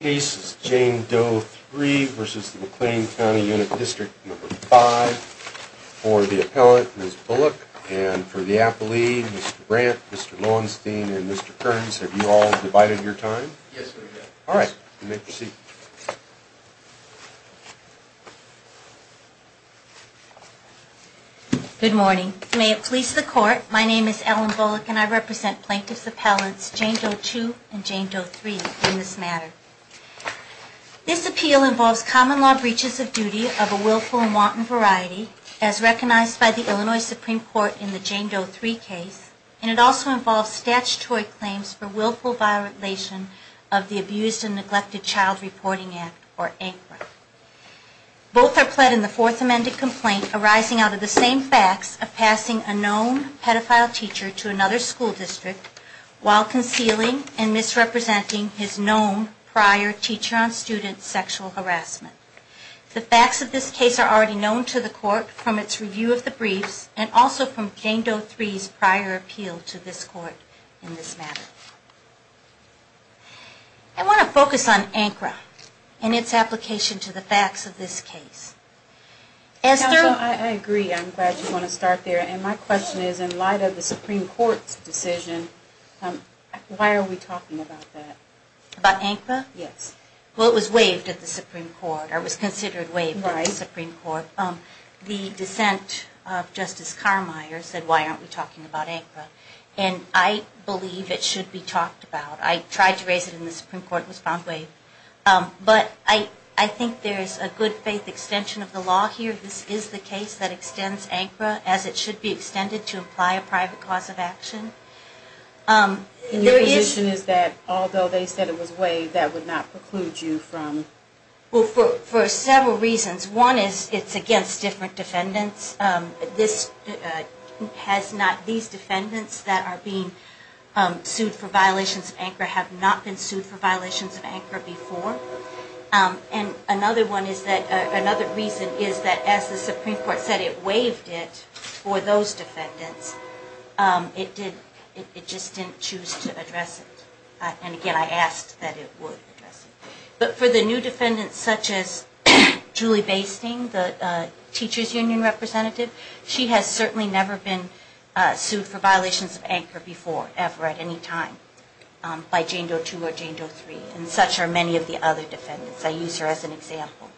Case is Jane Doe-3 v. McLean County Unit District No. 5. For the appellant, Ms. Bullock, and for the appellee, Mr. Brant, Mr. Lowenstein, and Mr. Kearns, have you all divided your time? Yes, we have. All right. You may proceed. Good morning. May it please the Court, my name is Ellen Bullock, and I represent plaintiffs' appellants Jane Doe-2 and Jane Doe-3 in this matter. This appeal involves common law breaches of duty of a willful and wanton variety, as recognized by the Illinois Supreme Court in the Jane Doe-3 case, and it also involves statutory claims for willful violation of the Abused and Neglected Child Reporting Act, or ANCRA. Both are pled in the Fourth Amended Complaint arising out of the same facts of passing a known pedophile teacher to another school district, while concealing and misrepresenting his known prior teacher-on-student sexual harassment. The facts of this case are already known to the Court from its review of the briefs, and also from Jane Doe-3's prior appeal to this Court in this matter. I want to focus on ANCRA and its application to the facts of this case. Counsel, I agree. I'm glad you want to start there. And my question is, in light of the Supreme Court's decision, why are we talking about that? About ANCRA? Yes. Well, it was waived at the Supreme Court, or was considered waived at the Supreme Court. Right. The dissent of Justice Carmeier said, why aren't we talking about ANCRA? And I believe it should be talked about. I tried to raise it in the Supreme Court and it was found waived. But I think there is a good-faith extension of the law here. This is the case that extends ANCRA, as it should be extended to imply a private cause of action. Your position is that, although they said it was waived, that would not preclude you from... Well, for several reasons. One is, it's against different defendants. These defendants that are being sued for violations of ANCRA have not been sued for violations of ANCRA before. And another reason is that, as the Supreme Court said it waived it for those defendants, it just didn't choose to address it. And again, I asked that it would address it. But for the new defendants, such as Julie Basting, the Teachers Union representative, she has certainly never been sued for violations of ANCRA before, ever, at any time, by Jane Doe 2 or Jane Doe 3. And such are many of the other defendants. I use her as an example.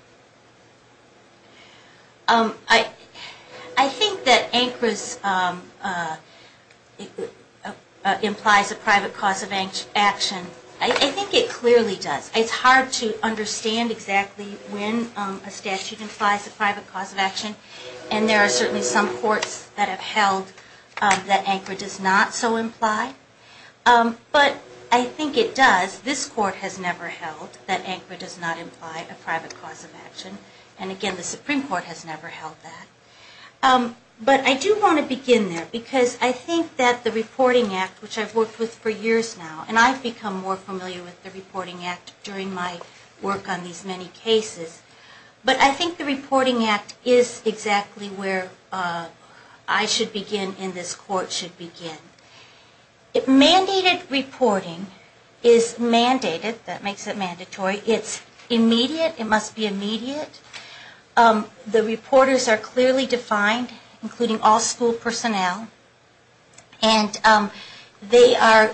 I think that ANCRA implies a private cause of action. I think it clearly does. It's hard to understand exactly when a statute implies a private cause of action. And there are certainly some courts that have held that ANCRA does not so imply. But I think it does. This court has never held that ANCRA does not imply a private cause of action. And again, the Supreme Court has never held that. But I do want to begin there, because I think that the Reporting Act, which I've worked with for years now, and I've become more familiar with the Reporting Act during my work on these many cases, but I think the Reporting Act is exactly where I should begin and this court should begin. Mandated reporting is mandated. That makes it mandatory. It's immediate. It must be immediate. The reporters are clearly defined, including all school personnel, and they are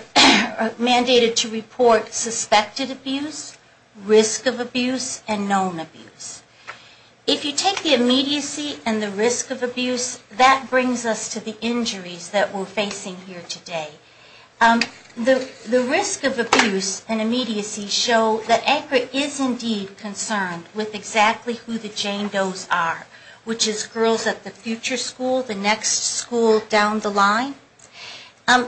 mandated to report suspected abuse, risk of abuse, and known abuse. If you take the immediacy and the risk of abuse, that brings us to the injuries that we're facing here today. The risk of abuse and immediacy show that ANCRA is indeed concerned with exactly who the Jane Doe's are, which is girls at the future school, the next school down the line.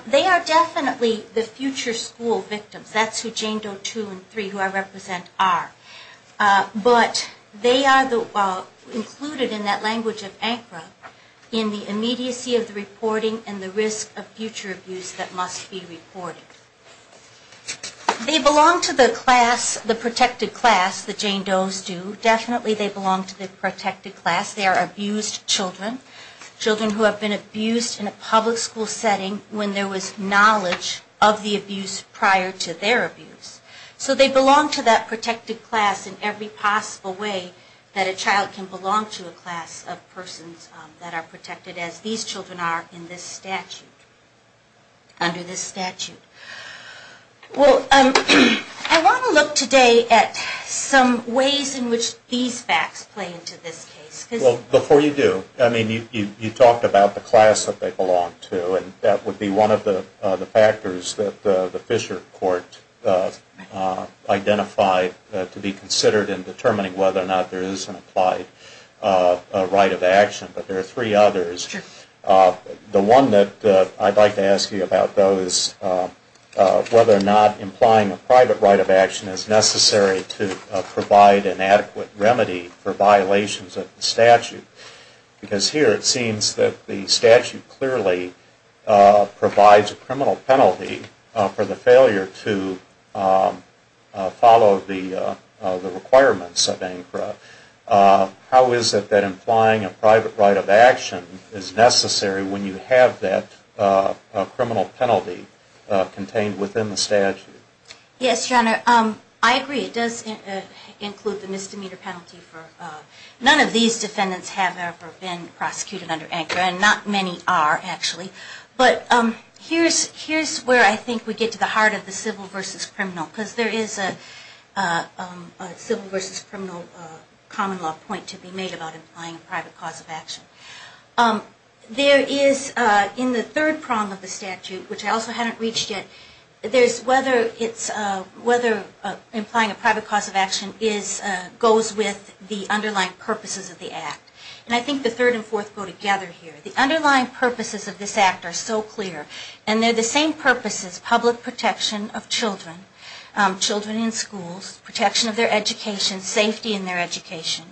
They are definitely the future school victims. That's who Jane Doe 2 and 3, who I represent, are. But the risk of abuse and immediacy show that ANCRA is indeed concerned with exactly who the Jane Doe's are, which is girls at the future school, the next school down the line. They are included in that language of ANCRA in the immediacy of the reporting and the risk of future abuse that must be reported. They belong to the class, the protected class, that Jane Doe's do. Definitely they belong to the protected class. They are abused children, children who have been abused in a public school setting when there was knowledge of the abuse prior to their abuse. So they belong to that protected class in every possible way that a child can belong to a class of persons that are protected as these children are in this statute, under this statute. Well, I want to look today at some ways in which these facts play into this case. Well, before you do, I mean, you talked about the class that they belong to, and that would be one of the factors that the Fisher Court identified to be considered in determining whether or not there is an applied right of action. But there are three others. The one that I'd like to ask you about, though, is whether or not implying a private right of action is necessary to provide an adequate remedy for violations of the statute. Because here it seems that the statute clearly provides a criminal penalty for the failure to follow the requirements of ANCRA. How is it that implying a private right of action is necessary when you have that criminal penalty contained within the statute? Yes, your Honor, I agree. It does include the misdemeanor penalty. None of these defendants have ever been prosecuted under ANCRA, and not many are, actually. But here's where I think we get to the heart of the civil versus criminal, because there is a civil versus criminal common law point to be made about implying a private cause of action. There is, in the third prong of the statute, which I also haven't reached yet, whether implying a private cause of action goes with the underlying purposes of the Act. And I think the third and fourth go together here. The underlying purposes of this Act are so clear, and they're the same purposes, public protection of children, children in schools, protection of their education, safety in their education.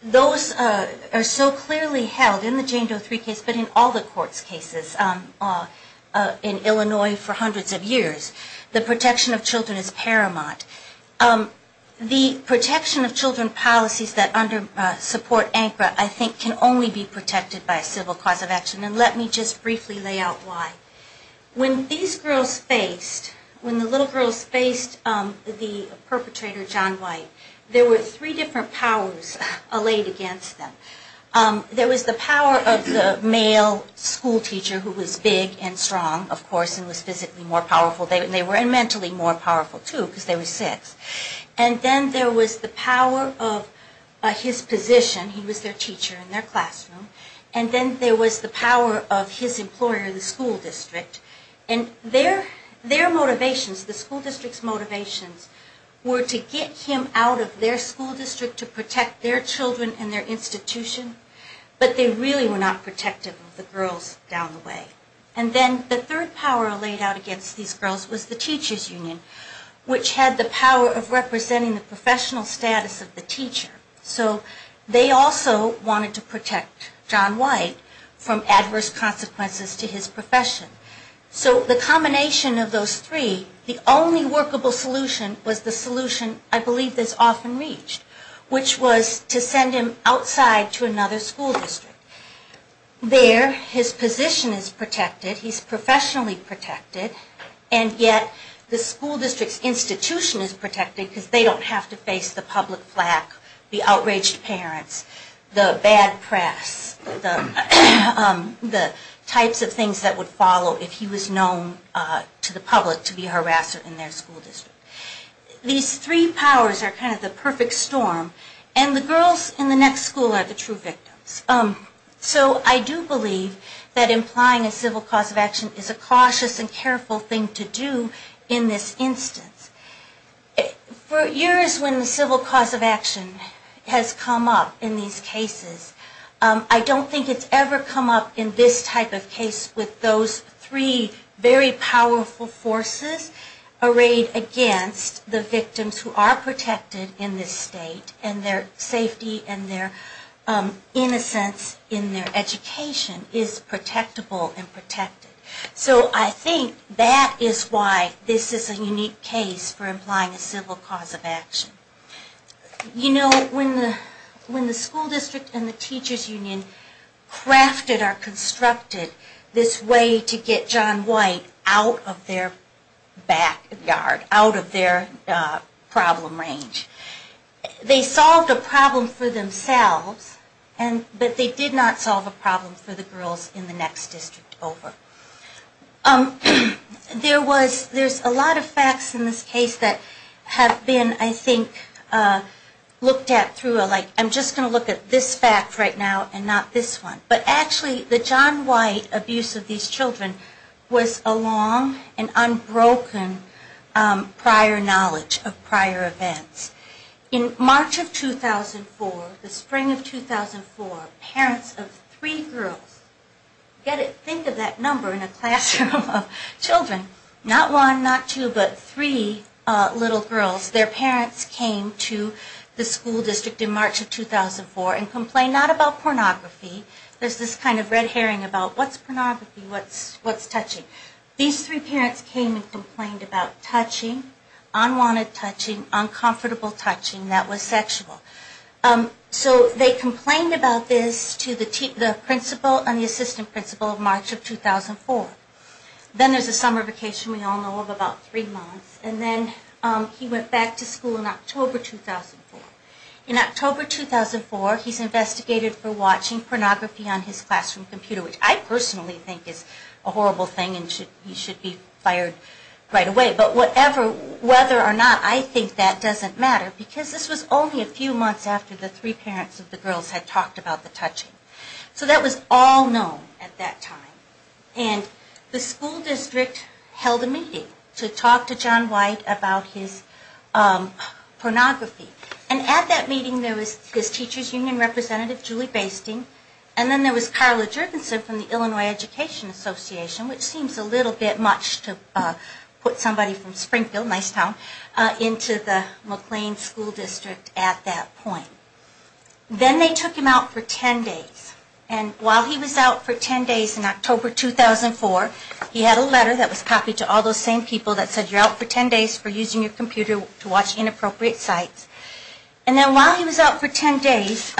Those are so clearly held in the Jane Doe 3 case, but in all the courts' cases in Illinois for hundreds of years. The protection of children is paramount. The protection of children policies that support ANCRA, I think, can only be protected by a civil cause of action. And let me just briefly lay out why. When these girls faced, when the little girls faced the perpetrator, John White, there were three different powers allayed against them. There was the power of the male schoolteacher, who was big and strong, of course, and was physically more powerful. They were mentally more powerful, too, because they were six. And then there was the power of his position, he was their teacher in their classroom. And then there was the power of his employer, the school district. And their motivations, the school district's motivations, were to get him out of their school district to protect their children and their institution. But they really were not protective of the girls down the way. And then the third power allayed out against these girls was the teacher's union, which had the power of representing the professional status of the teacher. So they also wanted to protect John White from adverse consequences to his profession. So the combination of those three, the only workable solution was the solution I believe that's often reached, which was to send him outside to another school district. There, his position is protected, he's professionally protected, and yet the school district's institution is protected because they don't have to face the public flak with him. The outraged parents, the bad press, the types of things that would follow if he was known to the public to be a harasser in their school district. These three powers are kind of the perfect storm, and the girls in the next school are the true victims. So I do believe that implying a civil cause of action is a cautious and careful thing to do in this instance. For years when the civil cause of action has come up in these cases, I don't think it's ever come up in this type of case with those three very powerful forces arrayed against the victims who are protected in this state, and their safety and their innocence in their education is protectable and protected. So I think that is why this is a unique case for implying a civil cause of action. You know, when the school district and the teachers' union crafted or constructed this way to get John White out of their backyard, out of their problem range, they solved a problem for themselves, but they did not solve a problem for the girls in the next district over. There was, there's a lot of facts in this case that have been, I think, looked at through a, like, I'm just going to look at this fact right now and not this one. But actually the John White abuse of these children was a long and unbroken prior knowledge of prior events. In March of 2004, the spring of 2004, parents of three girls, get it, think of that number in a classroom. Children, not one, not two, but three little girls, their parents came to the school district in March of 2004 and complained not about pornography, there's this kind of red herring about what's pornography, what's touching. These three parents came and complained about touching, unwanted touching, uncomfortable touching that was sexual. So they complained about this to the principal and the assistant principal in March of 2004. Then there's a summer vacation we all know of, about three months, and then he went back to school in October 2004. In October 2004, he's investigated for watching pornography on his classroom computer, which I personally think is a horrible thing and he should be fired right away. But whatever, whether or not, I think that doesn't matter, because this was only a few months after the three parents of the girls had talked about the touching. So that was all known at that time. And the school district held a meeting to talk to John White about his pornography. And at that meeting, there was his teacher's union representative, Julie Basting, and then there was Carla Jurgensen from the Illinois Education Association, which seems a little bit much to put somebody from Springfield, a nice town, into the McLean School District at that point. Then they took him out for 10 days. And while he was out for 10 days in October 2004, he had a letter that was copied to all those same people that said you're out for 10 days for using your computer to watch inappropriate sites. And then while he was out for 10 days,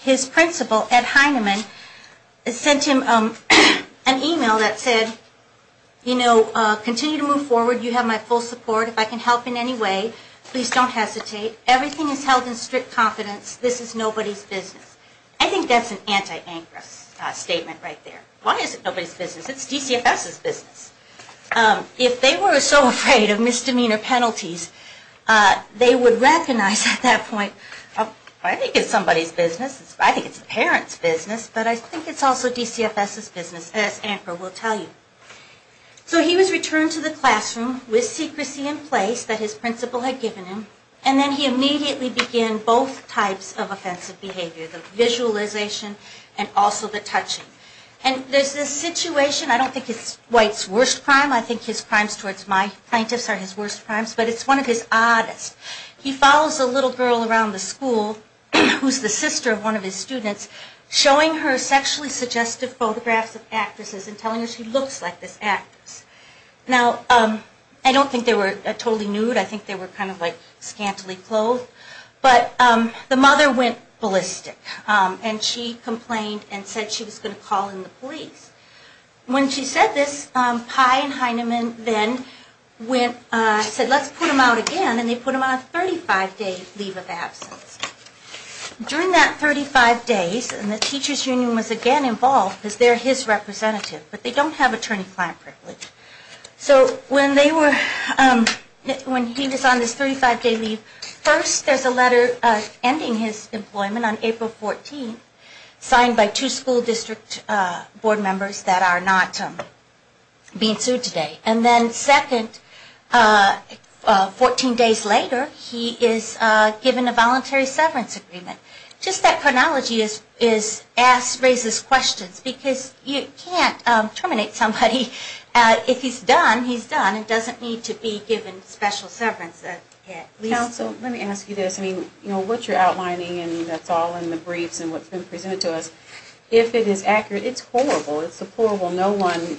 his principal, Ed Heineman, sent him an email that said, you know, continue to move forward. You have my full support. If I can help in any way, please don't hesitate. Everything is held in strict confidence. This is nobody's business. I think that's an anti-ANCRA statement right there. Why is it nobody's business? It's DCFS's business. If they were so afraid of misdemeanor penalties, they would recognize at that point, I think it's somebody's business. I think it's a parent's business. But I think it's also DCFS's business, as ANCRA will tell you. So he was returned to the classroom with secrecy in place that his principal had given him. And then he immediately began both types of offensive behavior, the visualization and also the touching. And there's this situation, I don't think it's White's worst crime, I think his crimes towards my plaintiffs are his worst crimes, but it's one of his oddest. He follows a little girl around the school who's the sister of one of his students, showing her sexually suggestive photographs of actresses and telling her she looks like this actress. Now, I don't think they were totally nude, I think they were kind of like scantily clothed, but the mother went ballistic. And she complained and said she was going to call in the police. When she said this, Pye and Heinemann then said, let's put him out again, and they put him on a 35-day leave of absence. During that 35 days, and the teacher's union was again involved because they're his representative, but they don't have attorney-client privilege. So when they were, when he was on this 35-day leave, first there's a letter ending his employment on April 14th, signed by two school district board members that are not being sued today. And then second, 14 days later, he is given a voluntary severance agreement. Just that chronology raises questions, because you can't terminate somebody if they're not being sued. If he's done, he's done. It doesn't need to be given special severance. Counsel, let me ask you this. I mean, you know, what you're outlining, and that's all in the briefs and what's been presented to us, if it is accurate, it's horrible. It's horrible. No one,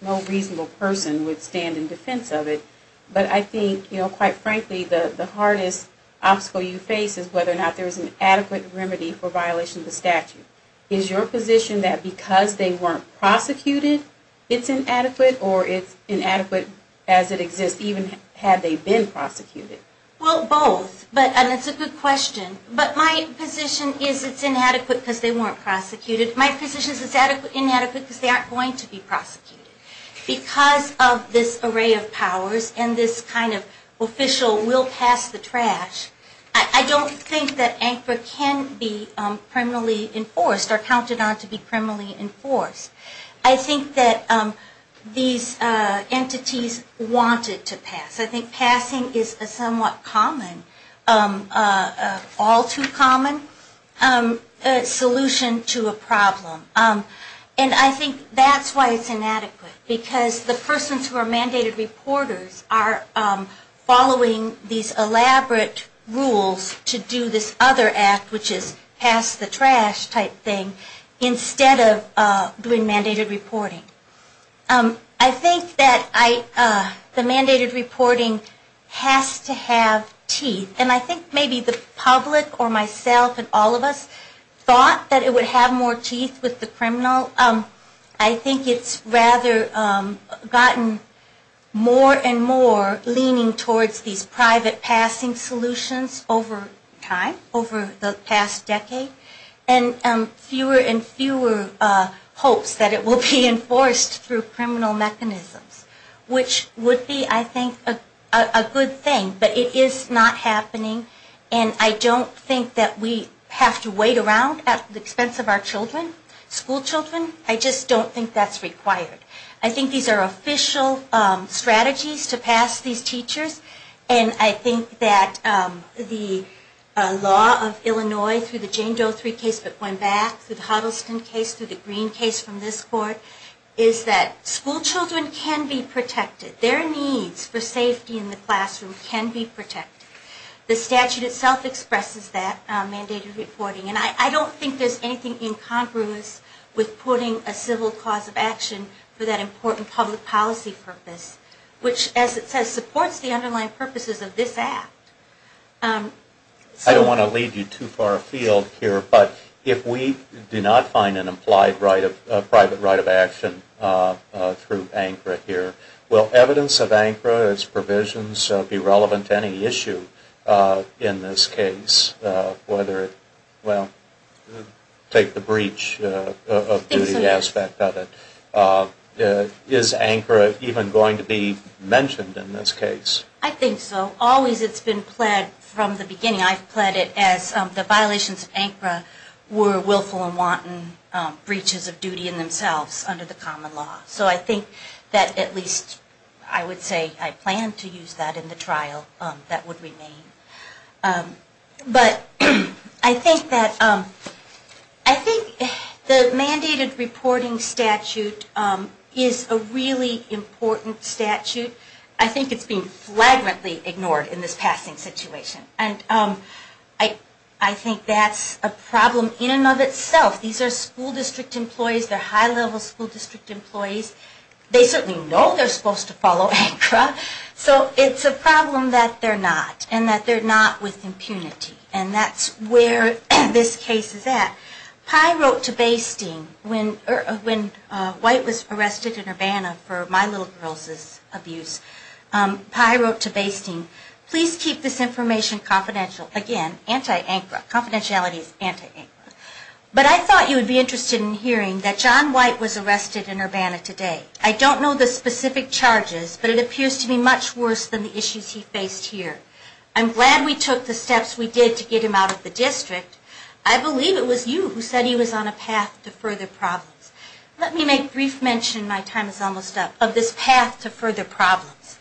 no reasonable person would stand in defense of it. But I think, you know, quite frankly, the hardest obstacle you face is whether or not there's an adequate remedy for violation of the statute. Is your position that because they weren't prosecuted, it's inadequate? Or it's inadequate as it exists, even had they been prosecuted? Well, both. And it's a good question. But my position is it's inadequate because they weren't prosecuted. My position is it's inadequate because they aren't going to be prosecuted. Because of this array of powers and this kind of official will-pass-the-trash, I don't think that ANCRA can be criminally enforced or counted on to be criminally enforced. I think that these entities wanted to pass. I think passing is a somewhat common, all too common solution to a problem. And I think that's why it's inadequate. Because the persons who are mandated reporters are following these elaborate rules to do this other act, which is pass-the-trash type thing, instead of doing mandated reporting. I think that the mandated reporting has to have teeth. And I think maybe the public or myself and all of us thought that it would have more teeth with the criminal. I think it's rather gotten more and more leaning towards these private passing solutions over time, over the past decade. And fewer and fewer hopes that it will be enforced through criminal mechanisms. Which would be, I think, a good thing. But it is not happening. And I don't think that we have to wait around at the expense of our children, schoolchildren. I just don't think that's required. I think these are official strategies to pass these teachers. And I think that the law of Illinois, through the Jane Doe case that went back, through the Huddleston case, through the Green case from this court, is that schoolchildren can be protected. Their needs for safety in the classroom can be protected. The statute itself expresses that, mandated reporting. And I don't think there's anything incongruous with putting a civil cause of action for that important public policy purpose. Which, as it says, supports the underlying purposes of this Act. I don't want to lead you too far afield here, but if we do not find an implied private right of action through ANCRA here, will evidence of ANCRA, its provisions, be relevant to any issue in this case? Take the breach of duty aspect of it. Is ANCRA even going to be mentioned in this case? I think so. Always it's been pled from the beginning. I've pled it as the violations of ANCRA were willful and wanton breaches of duty in themselves under the common law. So I think that at least, I would say, I plan to use that in the trial that would remain. But I think that the mandated reporting statute is a really important statute. I think it's been flagrantly ignored in this passing situation. And I think that's a problem in and of itself. These are school district employees. They're high-level school district employees. They certainly know they're supposed to follow ANCRA. So it's a problem that they're not. And that they're not with impunity. And that's where this case is at. And I think it's a problem in and of itself. Pye wrote to Baystein when White was arrested in Urbana for My Little Girls' abuse. Pye wrote to Baystein, please keep this information confidential. Again, confidentiality is anti-ANCRA. But I thought you would be interested in hearing that John White was arrested in Urbana today. I don't know the specific charges, but it appears to be much worse than the issues he faced here. I'm glad we took the steps we did to get him out of the district. I believe it was you who said he was on a path to further problems. Let me make brief mention, my time is almost up, of this path to further problems.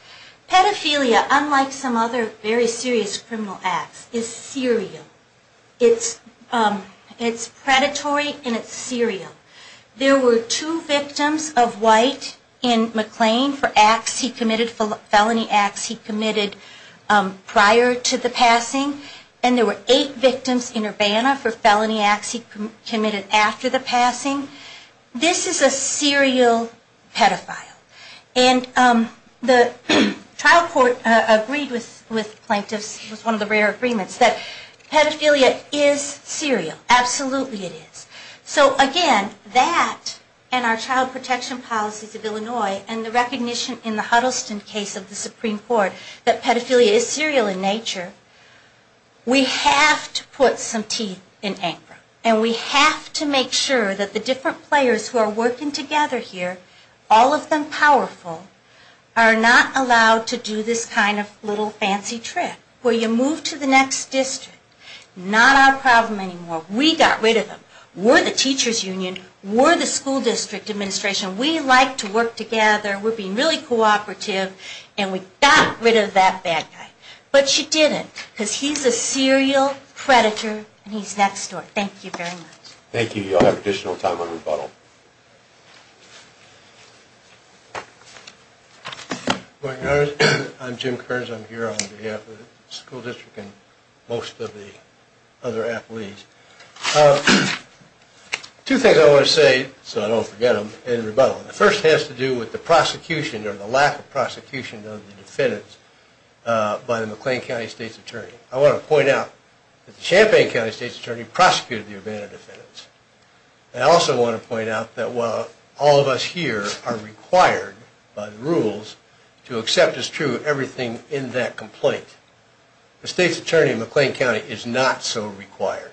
Pedophilia, unlike some other very serious criminal acts, is serial. It's predatory and it's serial. There were two victims of White in McLean for acts he committed, felony acts he committed prior to the passing. And there were eight victims in Urbana for felony acts he committed after the passing. This is a serial pedophile. And the trial court agreed with plaintiffs, it was one of the rare agreements, that pedophilia is serial. Absolutely it is. So again, that and our child protection policies of Illinois and the recognition in the Huddleston case of the Supreme Court that pedophilia is serial in nature, we have to put some teeth in ANCRA. And we have to make sure that the different players who are working together here, all of them powerful, are not allowed to do this kind of little fancy trick where you move to the next district. Not our problem anymore. We got rid of him. We're the teachers union, we're the school district administration, we like to work together, we're being really cooperative, and we got rid of that bad guy. But she didn't, because he's a serial predator and he's next door. Thank you very much. Thank you, you'll have additional time on rebuttal. Good morning, I'm Jim Kearns, I'm here on behalf of the school district and most of the other athletes. Two things I want to say, so I don't forget them, in rebuttal. The first has to do with the prosecution or the lack of prosecution of the defendants by the McLean County State's Attorney. I want to point out that the Champaign County State's Attorney prosecuted the Urbana defendants. I also want to point out that while all of us here are required by the rules to accept as true everything in that complaint, the State's Attorney in McLean County is not so required.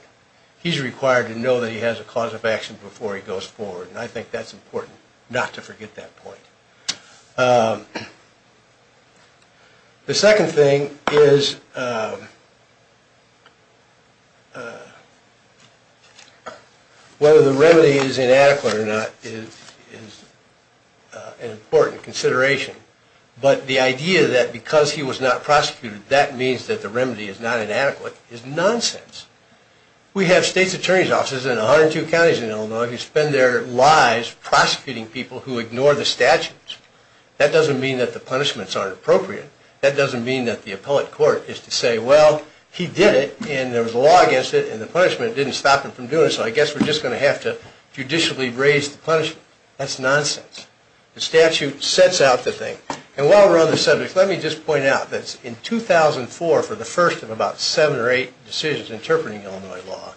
He's required to know that he has a cause of action before he goes forward, and I think that's important not to forget that point. The second thing is whether the remedy is inadequate or not is an important consideration, but the idea that because he was not a defendant, he was a defendant, we have State's Attorney's offices in 102 counties in Illinois who spend their lives prosecuting people who ignore the statutes. That doesn't mean that the punishments aren't appropriate. That doesn't mean that the appellate court is to say, well, he did it and there was a law against it and the punishment didn't stop him from doing it, so I guess we're just going to have to judicially raise the punishment. That's nonsense. The statute sets out the thing, and while we're on the subject, let me just point out that in 2004, for the first of about seven or eight decisions interpreting Illinois law,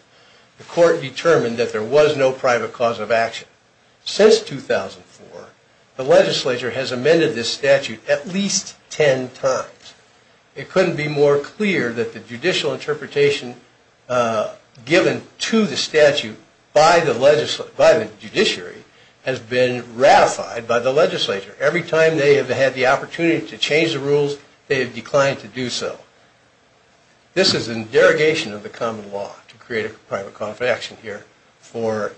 the court determined that there was no private cause of action. Since 2004, the legislature has amended this statute at least ten times. It couldn't be more clear that the judicial interpretation given to the statute by the judiciary has been ratified by the legislature. Every time they have had the opportunity to change the rules, they have declined to do so. This is in derogation of the common law to create a private cause of action here for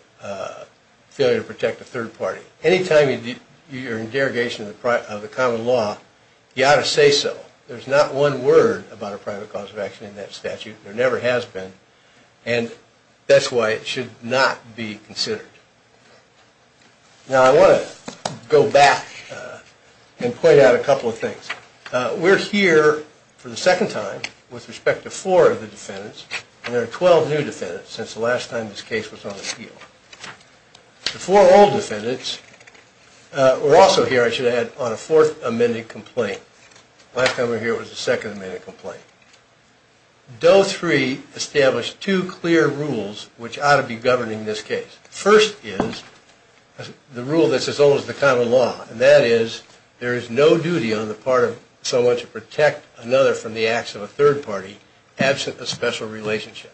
failure to protect a third party. Anytime you're in derogation of the common law, you ought to say so. There's not one word about a private cause of action in that statute. There never has been, and that's why it should not be considered. Now I want to go back and point out a couple of things. We're here for the second time with respect to four of the defendants, and there are 12 new defendants since the last time this case was on appeal. The four old defendants were also on a fourth amended complaint. Doe 3 established two clear rules which ought to be governing this case. First is the rule that's as old as the common law, and that is there is no duty on the part of someone to protect another from the acts of a third party absent a special relationship.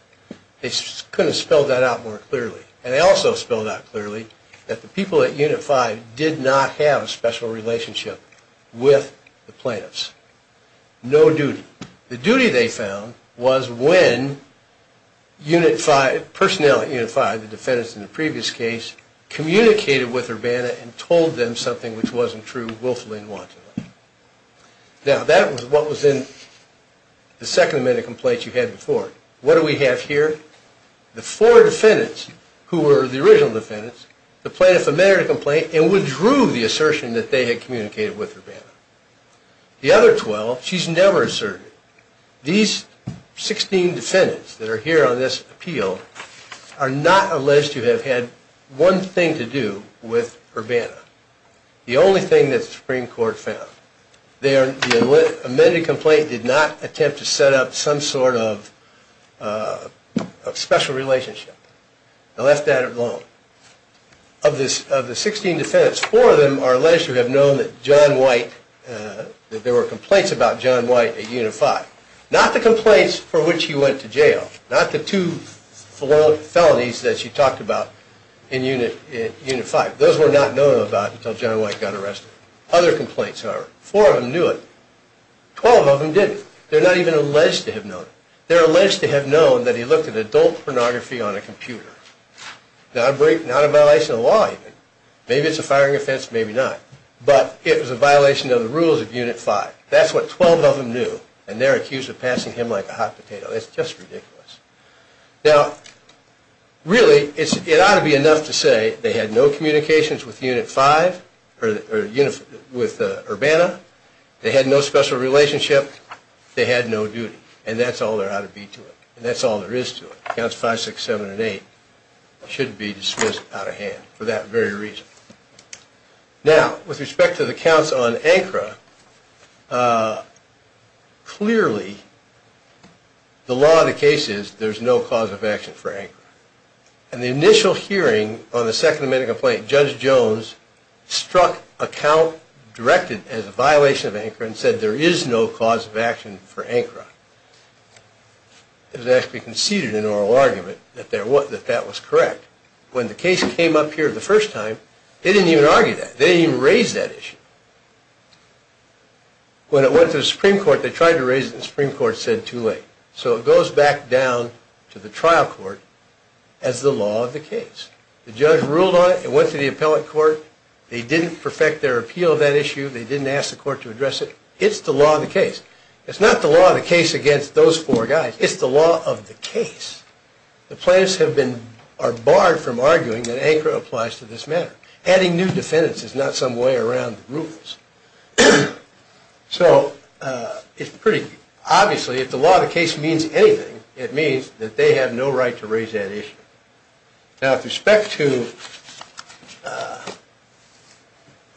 They couldn't spell that out more clearly. And they also spelled out clearly that the people at Unit 5 did not have a special relationship with the plaintiffs. No duty. The duty they found was when personnel at Unit 5, the defendants in the previous case, communicated with Urbana and told them something which wasn't true willfully and wantonly. Now that was what was in the second amended complaint you had before. What do we have here? The four defendants who were the original defendants, the plaintiffs amended the complaint and withdrew the assertion that they had communicated with Urbana. The other 12, she's never asserted. These 16 defendants that are here on this appeal are not alleged to have had one thing to do with Urbana. The only thing that the Supreme Court found. The amended complaint did not attempt to set up some sort of special relationship. They left that alone. Of the 16 defendants, four of them are alleged to have known that there were complaints about John White at Unit 5. Not the complaints for which he went to jail. Not the two felonies that she talked about in Unit 5. Those were not known about until John White got arrested. Other complaints however. Four of them knew it. Twelve of them didn't. They're not even alleged to have known it. They're alleged to have known that he looked at adult pornography on a computer. Not a violation of the law even. Maybe it's a firing offense, maybe not. But it was a violation of the rules of Unit 5. That's what 12 of them knew and they're accused of passing him like a hot potato. It's just ridiculous. Now really it ought to be enough to say they had no communications with Urbana. They had no special relationship. They had no duty. And that's all there ought to be to it. That's all there is to it. Counts 5, 6, 7 and 8 should be dismissed out of hand for that very reason. Now with respect to the case, the law of the case is there's no cause of action for ANCRA. And the initial hearing on the Second Amendment complaint, Judge Jones struck a count directed as a violation of ANCRA and said there is no cause of action for ANCRA. It was actually conceded in oral argument that that was correct. When the case came up here the first time, they didn't even argue that. They didn't even raise that issue. When it went to the Supreme Court they tried to raise it and the Supreme Court said too late. So it goes back down to the trial court as the law of the case. The judge ruled on it. It went to the appellate court. They didn't perfect their appeal of that issue. They didn't ask the court to address it. It's the law of the case. It's not the law of the case against those four guys. It's the law of the case. The plaintiffs have been, are barred from arguing that ANCRA applies to this matter. Adding new defendants is not some way around the rules. So it's pretty, obviously if the law of the case means anything, it means that they have no right to raise that issue. Now with respect to,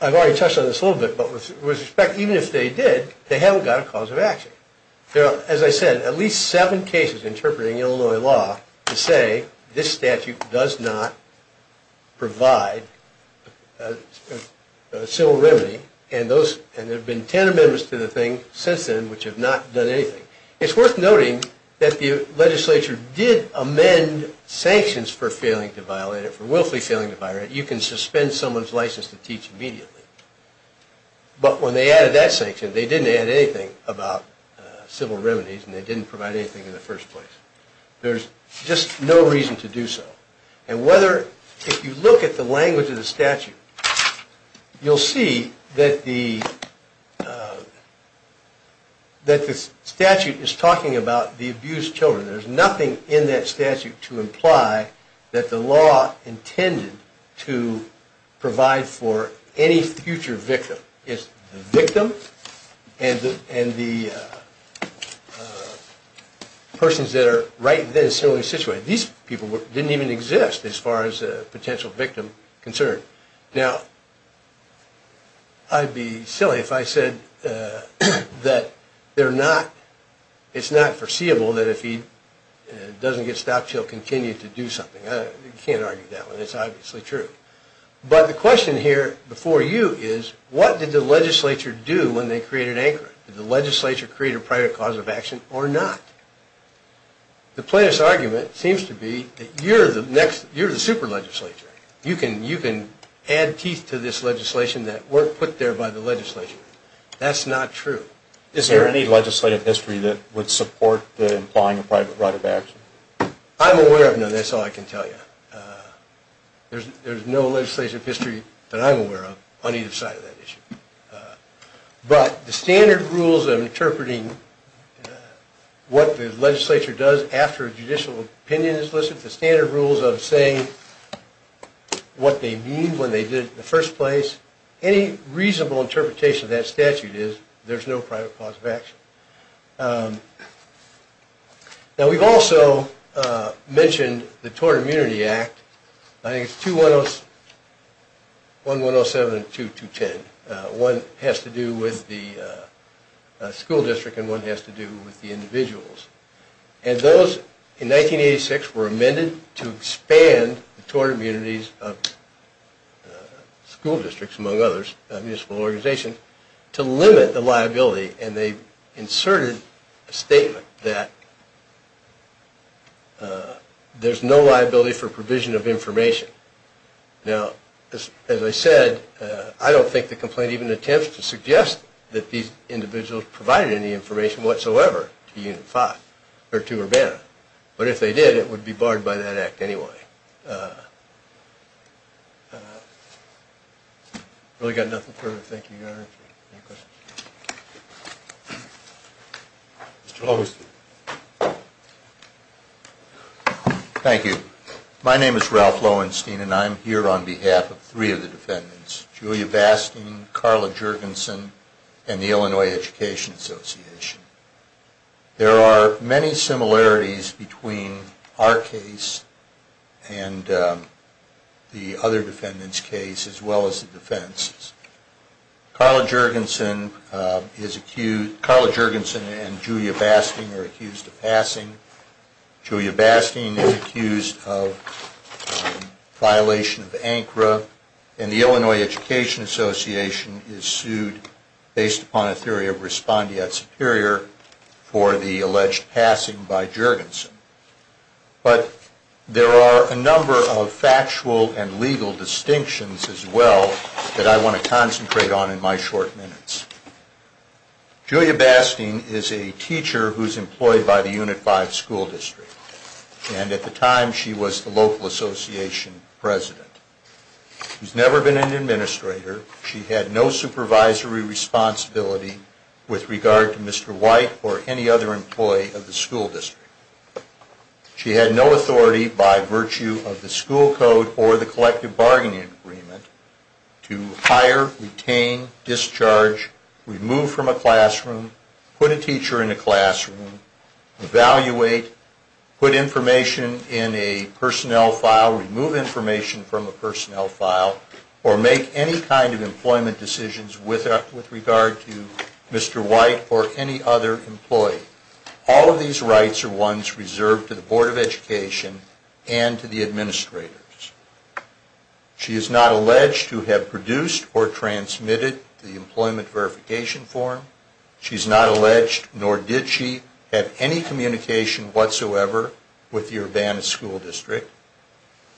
I've already touched on this a little bit, but with respect, even if they did, they haven't got a cause of action. There are, as I said, at least seven cases interpreting Illinois law to say this statute does not provide civil remedy and there have been ten amendments to the thing since then which have not done anything. It's worth noting that the legislature did amend sanctions for failing to violate it, for willfully failing to violate it. You can suspend someone's license to teach immediately. But when they added that sanction, they didn't add anything about civil remedies and they didn't provide anything in the first place. There's just no reason to do so. And whether, if you look at the language of the statute, you'll see that the statute is talking about the abused children. There's nothing in that statute to imply that the law intended to provide for any future victim. It's the victim and the persons that are right there in a similar situation. These people didn't even exist as far as a potential victim concerned. Now, I'd be silly if I said that it's not foreseeable that if he doesn't get stopped, he'll continue to do something. You can't argue that one. It's obviously true. But the question here before you is what did the legislature do when they created ANCRA? Did the legislature create a private cause of action or not? The plaintiff's argument seems to be that you're the super legislature. You can add teeth to this legislation that weren't put there by the legislature. That's not true. Is there any legislative history that would support implying a private right of action? I'm aware of none. That's all I can tell you. There's no legislative history that I'm aware of on either side of that issue. But the standard rules of interpreting what the legislature does after a person has been detained when they did it in the first place, any reasonable interpretation of that statute is there's no private cause of action. Now, we've also mentioned the Tort Immunity Act. I think it's 1-107 and 2-210. One has to do with the school district and one has to do with the individuals. And those, in 1986, were amended to expand the tort immunities of school districts, among others, a municipal organization, to limit the liability. And they inserted a statement that there's no liability for provision of information. Now, as I said, I don't think the complaint even attempts to suggest that these individuals provided any information whatsoever to Unit 5 or to Urbana. But if they did, it would be barred by that act anyway. I've really got nothing further to thank you, Your Honor. Mr. Lowenstein. Thank you. My name is Ralph Lowenstein, and I'm here on behalf of three of the defendants, Julia Bastien, Carla Jurgensen, and the Illinois Education Association. There are many similarities between our case and the other defendants' case, as well as the defense's. Carla Jurgensen and Julia Bastien are accused of violation of ANCRA, and the Illinois Education Association is sued based upon a theory of respondeat superior for the alleged passing by Jurgensen. But there are a number of factual and legal distinctions, as well, that I want to concentrate on in my short minutes. Julia Bastien is a teacher who's employed by the local association president. She's never been an administrator. She had no supervisory responsibility with regard to Mr. White or any other employee of the school district. She had no authority by virtue of the school code or the collective bargaining agreement to hire, retain, discharge, remove from a classroom, put a teacher in a personnel file, remove information from a personnel file, or make any kind of employment decisions with regard to Mr. White or any other employee. All of these rights are ones reserved to the Board of Education and to the administrators. She is not alleged to have produced or transmitted the employment verification form. She's not alleged, nor did she have any communication whatsoever with the Urbana school district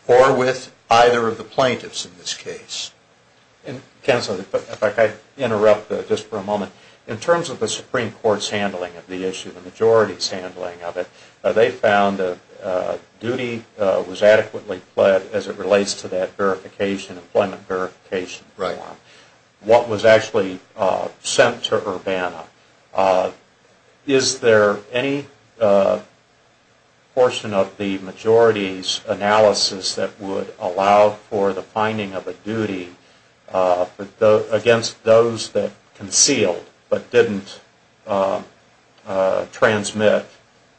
or with either of the plaintiffs in this case. And Counselor, if I could interrupt just for a moment. In terms of the Supreme Court's handling of the issue, the majority's handling of it, they found that duty was adequately fled as it relates to that employment verification form. What was actually sent to Urbana? Is there any portion of the majority's analysis that would allow for the finding of a duty against those that concealed but didn't transmit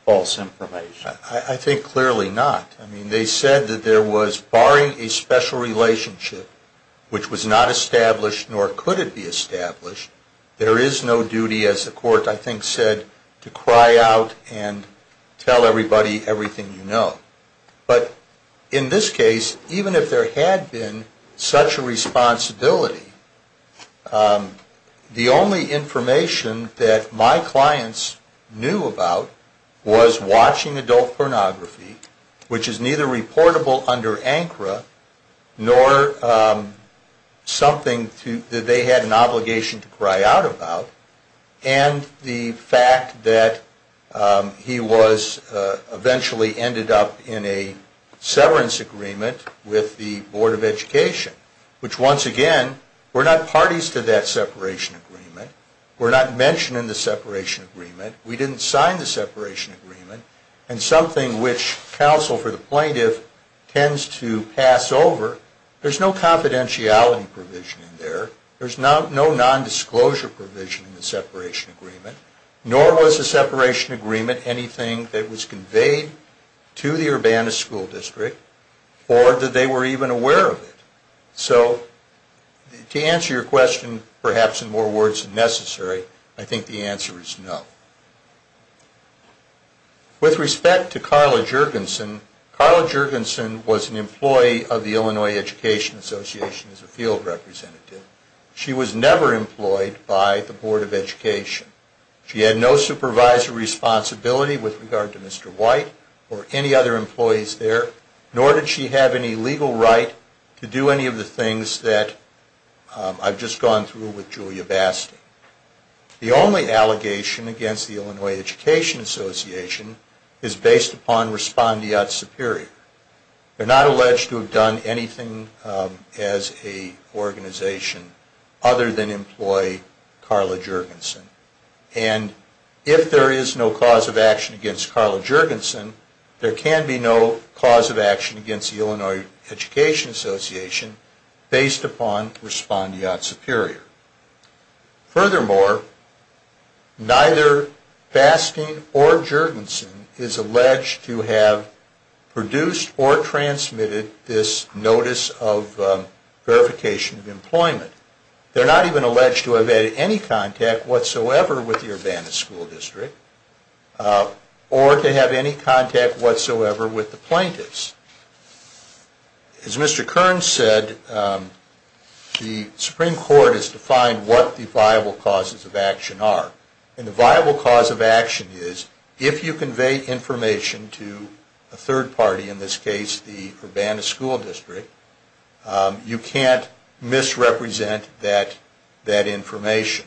false information? I think clearly not. They said that there was, barring a special relationship which was not established nor could it be established, there is no duty as the court I think said to cry out and tell everybody everything you know. But in this case, even if there had been such a responsibility, the only information that my clients knew about was watching adult pornography, which is neither reportable under ANCRA nor something that they had an obligation to cry out about. And the fact that he was eventually ended up in a severance agreement with the Board of Education, which once again, we're not parties to that separation agreement. We're not mentioned in the separation agreement. We didn't sign the separation agreement. And something which counsel for the plaintiff tends to pass over, there's no confidentiality provision in there. There's no non-disclosure provision in the separation agreement, nor was the separation agreement anything that was conveyed to the Urbana School District or that they were even aware of it. So to answer your question, perhaps in more words than necessary, I think the answer is no. With respect to Carla Juergensen, Carla Juergensen was an employee of the Illinois Education Association as a field representative. She was never employed by the Board of Education. She had no supervisory responsibility with regard to Mr. White or any other employees there, nor did she have any legal right to do any of the things that I've just gone through with Julia Basti. The only allegation against the Illinois Education Association is based upon Respondiat Superior. They're not alleged to have done anything as a organization other than employ Carla Juergensen. And if there is no cause of action against Carla Juergensen, there can be no cause of action against the Illinois Education Association based upon Respondiat Superior. Furthermore, neither Basti or Juergensen is alleged to have produced or transmitted this notice of verification of any contact whatsoever with the Urbana School District or to have any contact whatsoever with the plaintiffs. As Mr. Kern said, the Supreme Court has defined what the viable causes of action are. And the viable cause of action is if you convey information to a third party, in this case the Urbana School District, you can't misrepresent that information.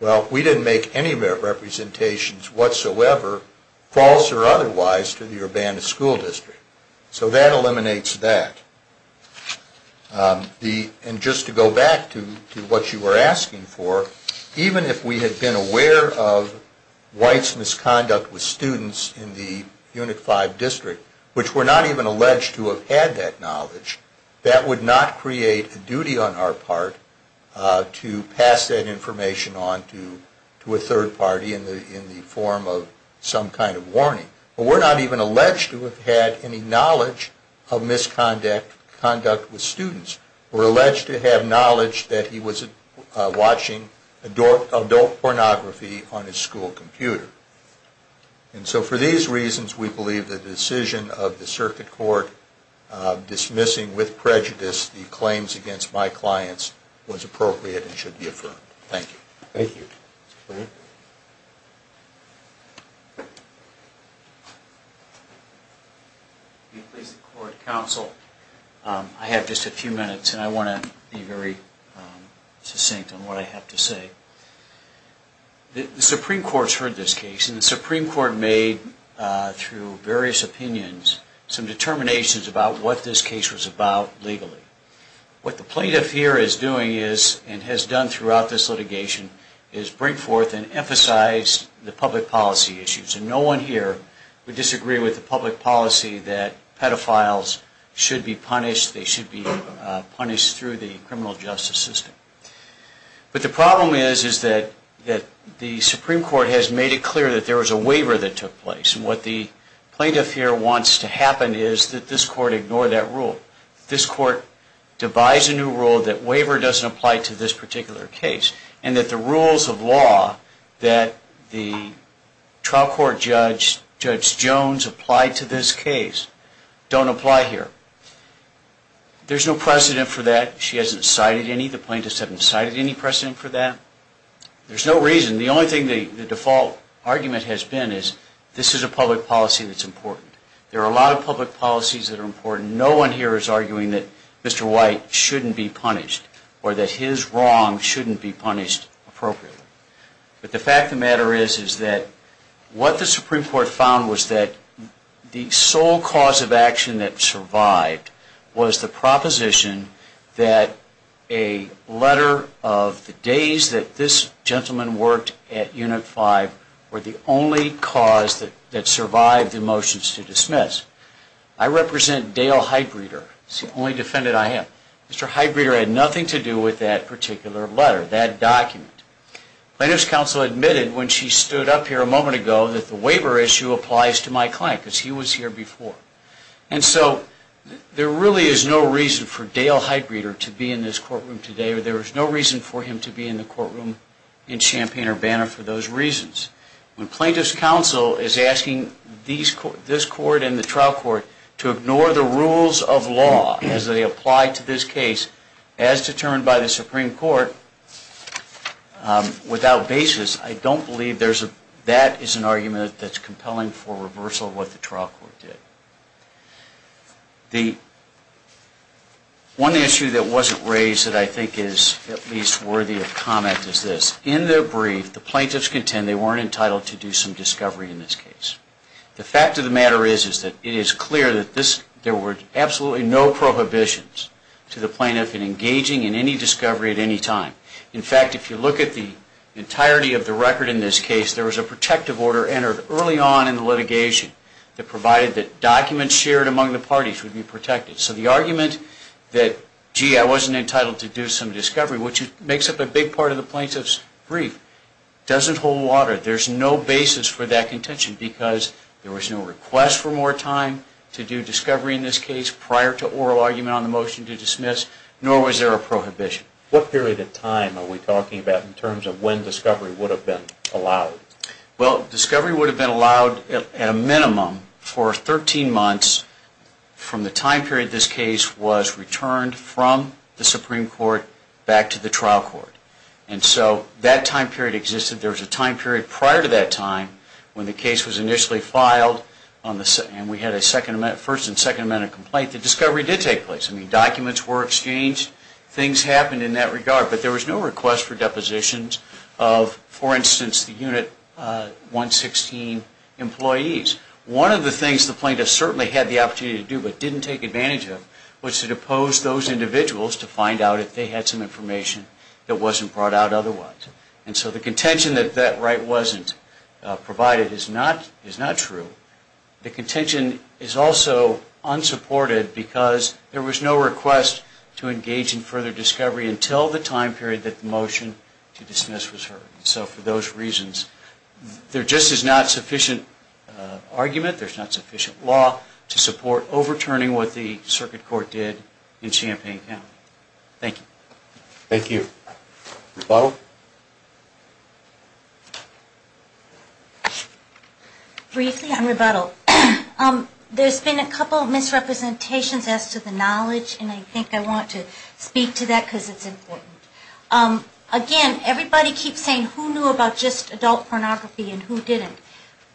Well, we didn't make any representations whatsoever, false or otherwise, to the Urbana School District. So that eliminates that. And just to go back to what you were asking for, even if we had been aware of White's misconduct with students in the Unit 5 District, which we're not even alleged to have had that knowledge, that would not create a duty on our part to pass that information on to a third party in the form of some kind of warning. But we're not even alleged to have had any knowledge of misconduct with students. We're alleged to have knowledge that he was watching adult pornography on his school computer. And so for these reasons, we believe that the decision of the Circuit Court dismissing with prejudice the claims against my clients was appropriate and should be affirmed. Thank you. Thank you. I have just a few minutes and I want to be very succinct on what I have to say. The Supreme Court has heard this case and the Supreme Court made through various opinions some determinations about what this case was about legally. What the plaintiff here is doing is, and has done throughout this litigation, is bring forth and emphasize the public policy issues. And no one here would disagree with the public policy that pedophiles should be punished. They should be punished through the criminal justice system. But the problem is that the Supreme Court has made it clear that there was a waiver that took place. And what the plaintiff here wants to happen is that this Court ignore that rule. This Court devise a new rule that waiver doesn't apply to this particular case. And that the rules of law that the trial court judge, Judge Jones, applied to this case don't apply here. There's no precedent for that. She hasn't cited any. The plaintiffs haven't cited any precedent for that. There's no reason. The only thing the default argument has been is this is a public policy that's important. There are a lot of public policies that are important. No one here is arguing that Mr. White shouldn't be punished or that his wrong shouldn't be punished appropriately. But the fact of the matter is that what the Supreme Court found was that the sole cause of action that survived was the proposition that a letter of the days that this gentleman worked at Unit 5 were the only cause that survived the motions to dismiss. I represent Dale Heitbreeder. He's the only defendant I have. Mr. Heitbreeder had nothing to do with that particular letter, that document. Plaintiff's counsel admitted when she stood up here a moment ago that the waiver issue applies to my client because he was here before. There really is no reason for Dale Heitbreeder to be in this courtroom today or there is no reason for him to be in the courtroom in Champaign-Urbana for those reasons. When plaintiff's counsel is asking this court and the trial court to ignore the rules of law as they apply to this case as determined by the Supreme Court without basis, I don't believe that is an argument that's compelling for reversal of what the trial court did. One issue that wasn't raised that I think is at least worthy of comment is this. In their brief, the plaintiffs contend they weren't entitled to do some discovery in this case. The fact of the matter is that it is clear that there were absolutely no prohibitions to the plaintiff in engaging in any discovery at any time. In fact, if you look at the entirety of the record in this case, there was a protective order entered early on in the litigation that provided that documents shared among the parties would be protected. So the argument that, gee, I wasn't entitled to do some discovery, which makes up a big part of the plaintiff's brief, doesn't hold water. There's no basis for that contention because there was no request for more time to do discovery in this case prior to oral argument on the motion to dismiss, nor was there a prohibition. What period of time are we talking about in terms of when discovery would have been allowed? Well, discovery would have been allowed at a minimum for 13 months from the time period this case was returned from the Supreme Court back to the trial court. And so that time period existed. There was a time period prior to that time when the case was initially filed, and we had a first and second amendment complaint, that discovery did take place. I mean, documents were exchanged. Things happened in that regard. But there was no request for depositions of, for instance, the Unit 116 employees. One of the things the plaintiff certainly had the opportunity to do but didn't take advantage of was to depose those individuals to find out if they had some information that wasn't brought out otherwise. And so the contention that that right wasn't provided is not true. The contention is also unsupported because there was no request to engage in further discovery until the time period that the motion to dismiss was heard. And so for those reasons, there just is not sufficient argument, there's not sufficient law to support overturning what the circuit court did in Champaign County. Thank you. Thank you. Rebuttal? Briefly on rebuttal, there's been a couple of misrepresentations as to the knowledge, and I think I want to speak to that because it's important. Again, everybody keeps saying who knew about just adult pornography and who didn't.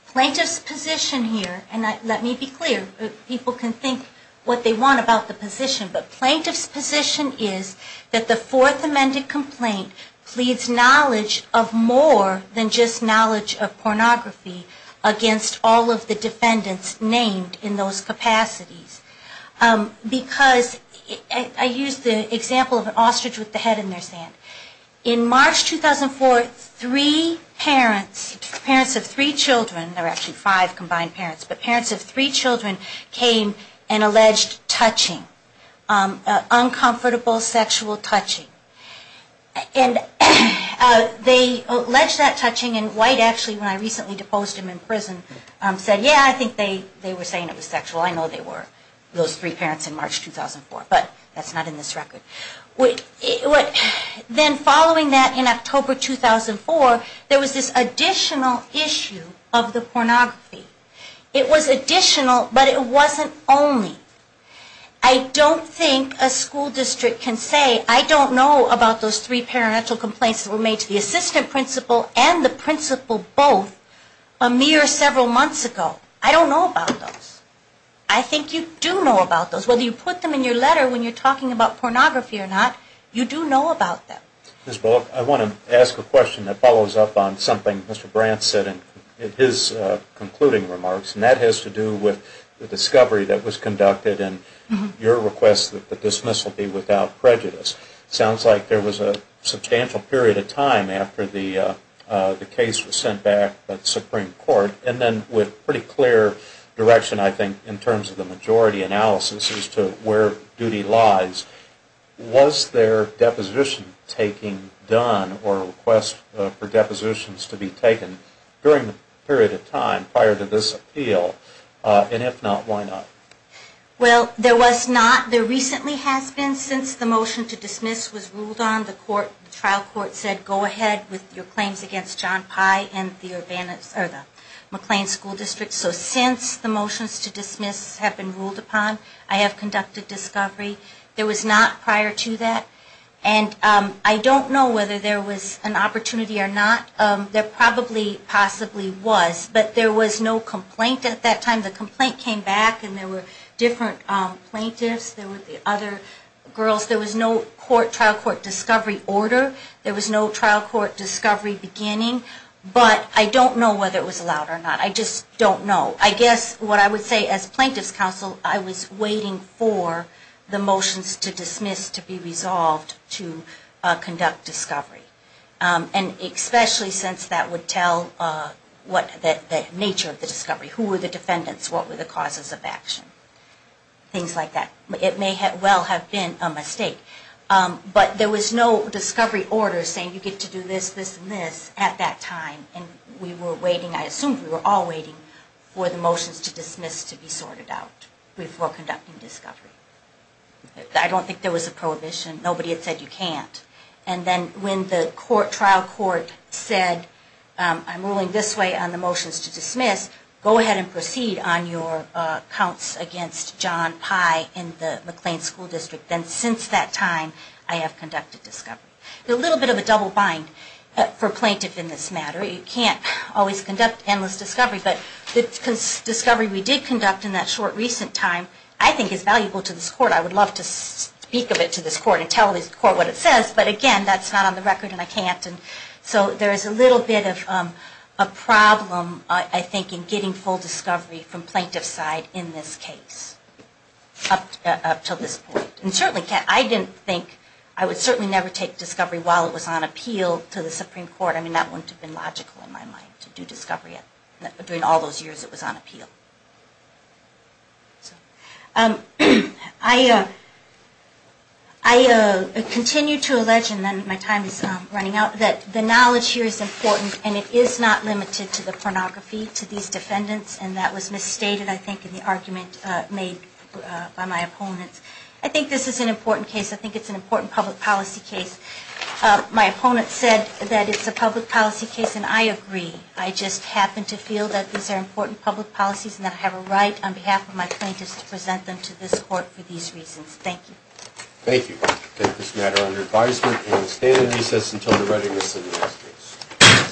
Plaintiff's position here, and let me be clear, people can think what they want about the position, but plaintiff's position is that the fourth amended complaint pleads knowledge of more than just knowledge of pornography against all of the defendants named in those capacities. Because I used the example of an ostrich with the head in their sand. In March 2004, three parents, parents of three children, there were actually five combined parents, but parents of three children came and alleged touching, uncomfortable sexual touching. And they alleged that touching, and White actually, when I recently deposed him in prison, said, yeah, I think they were saying it was sexual. I know they were, those three parents in March 2004. But that's not in this record. Then following that in October 2004, there was this additional issue of the pornography. It was additional, but it wasn't only. I don't think a school district can say I don't know about those three parental complaints that were made to the assistant principal and the principal both a mere several months ago. I don't know about those. I think you do know about those. Whether you put them in your letter when you're talking about pornography or not, you do know about them. I want to ask a question that follows up on something Mr. Brandt said in his concluding remarks, and that has to do with the discovery that was conducted and your request that the dismissal be without prejudice. Sounds like there was a substantial period of time after the case was sent back to the Supreme Court, and then with pretty clear direction, I think, in terms of the majority analysis as to where duty lies. Was there deposition taking done or a request for depositions to be taken during the period of time prior to this appeal? And if not, why not? Well, there was not. There recently has been since the motion to dismiss was ruled on. The trial court said go ahead with your claims against John Pye and the McLean School District. So since the motions to dismiss have been ruled upon, I have conducted discovery. There was not prior to that. And I don't know whether there was an opportunity or not. There probably possibly was, but there was no complaint at that time. The complaint came back and there were different plaintiffs. There were the other girls. There was no trial court discovery order. There was no trial court discovery beginning. But I don't know whether it was allowed or not. I just don't know. I guess what I would say as plaintiff's counsel, I was waiting for the motions to dismiss to be resolved to conduct discovery. And especially since that would tell the nature of the discovery. Who were the defendants? What were the causes of action? Things like that. It may well have been a mistake. But there was no discovery order saying you get to do this, this, and this at that time. And we were waiting, I assume we were all waiting for the motions to dismiss to be sorted out before conducting discovery. I don't think there was a prohibition. Nobody had said you can't. And then when the trial court said I'm ruling this way on the motions to dismiss, go ahead and proceed on your counts against John Pye in the McLean School District. Then since that time I have conducted discovery. A little bit of a double bind for plaintiff in this matter. You can't always conduct endless discovery. But the discovery we did conduct in that short recent time I think is valuable to this court. I would love to speak of it to this court and tell this court what it says. But again, that's not on the record and I can't. So there is a little bit of a problem I think in getting full discovery from plaintiff's side in this case. Up until this point. I would certainly never take discovery while it was on appeal to the Supreme Court. I mean that wouldn't have been logical in my mind to do discovery during all those years it was on appeal. I continue to allege, and then my time is running out, that the knowledge here is important and it is not I think this is an important case. I think it's an important public policy case. My opponent said that it's a public policy case and I agree. I just happen to feel that these are important public policies and that I have a right on behalf of my plaintiffs to present them to this court for these reasons. Thank you. Thank you.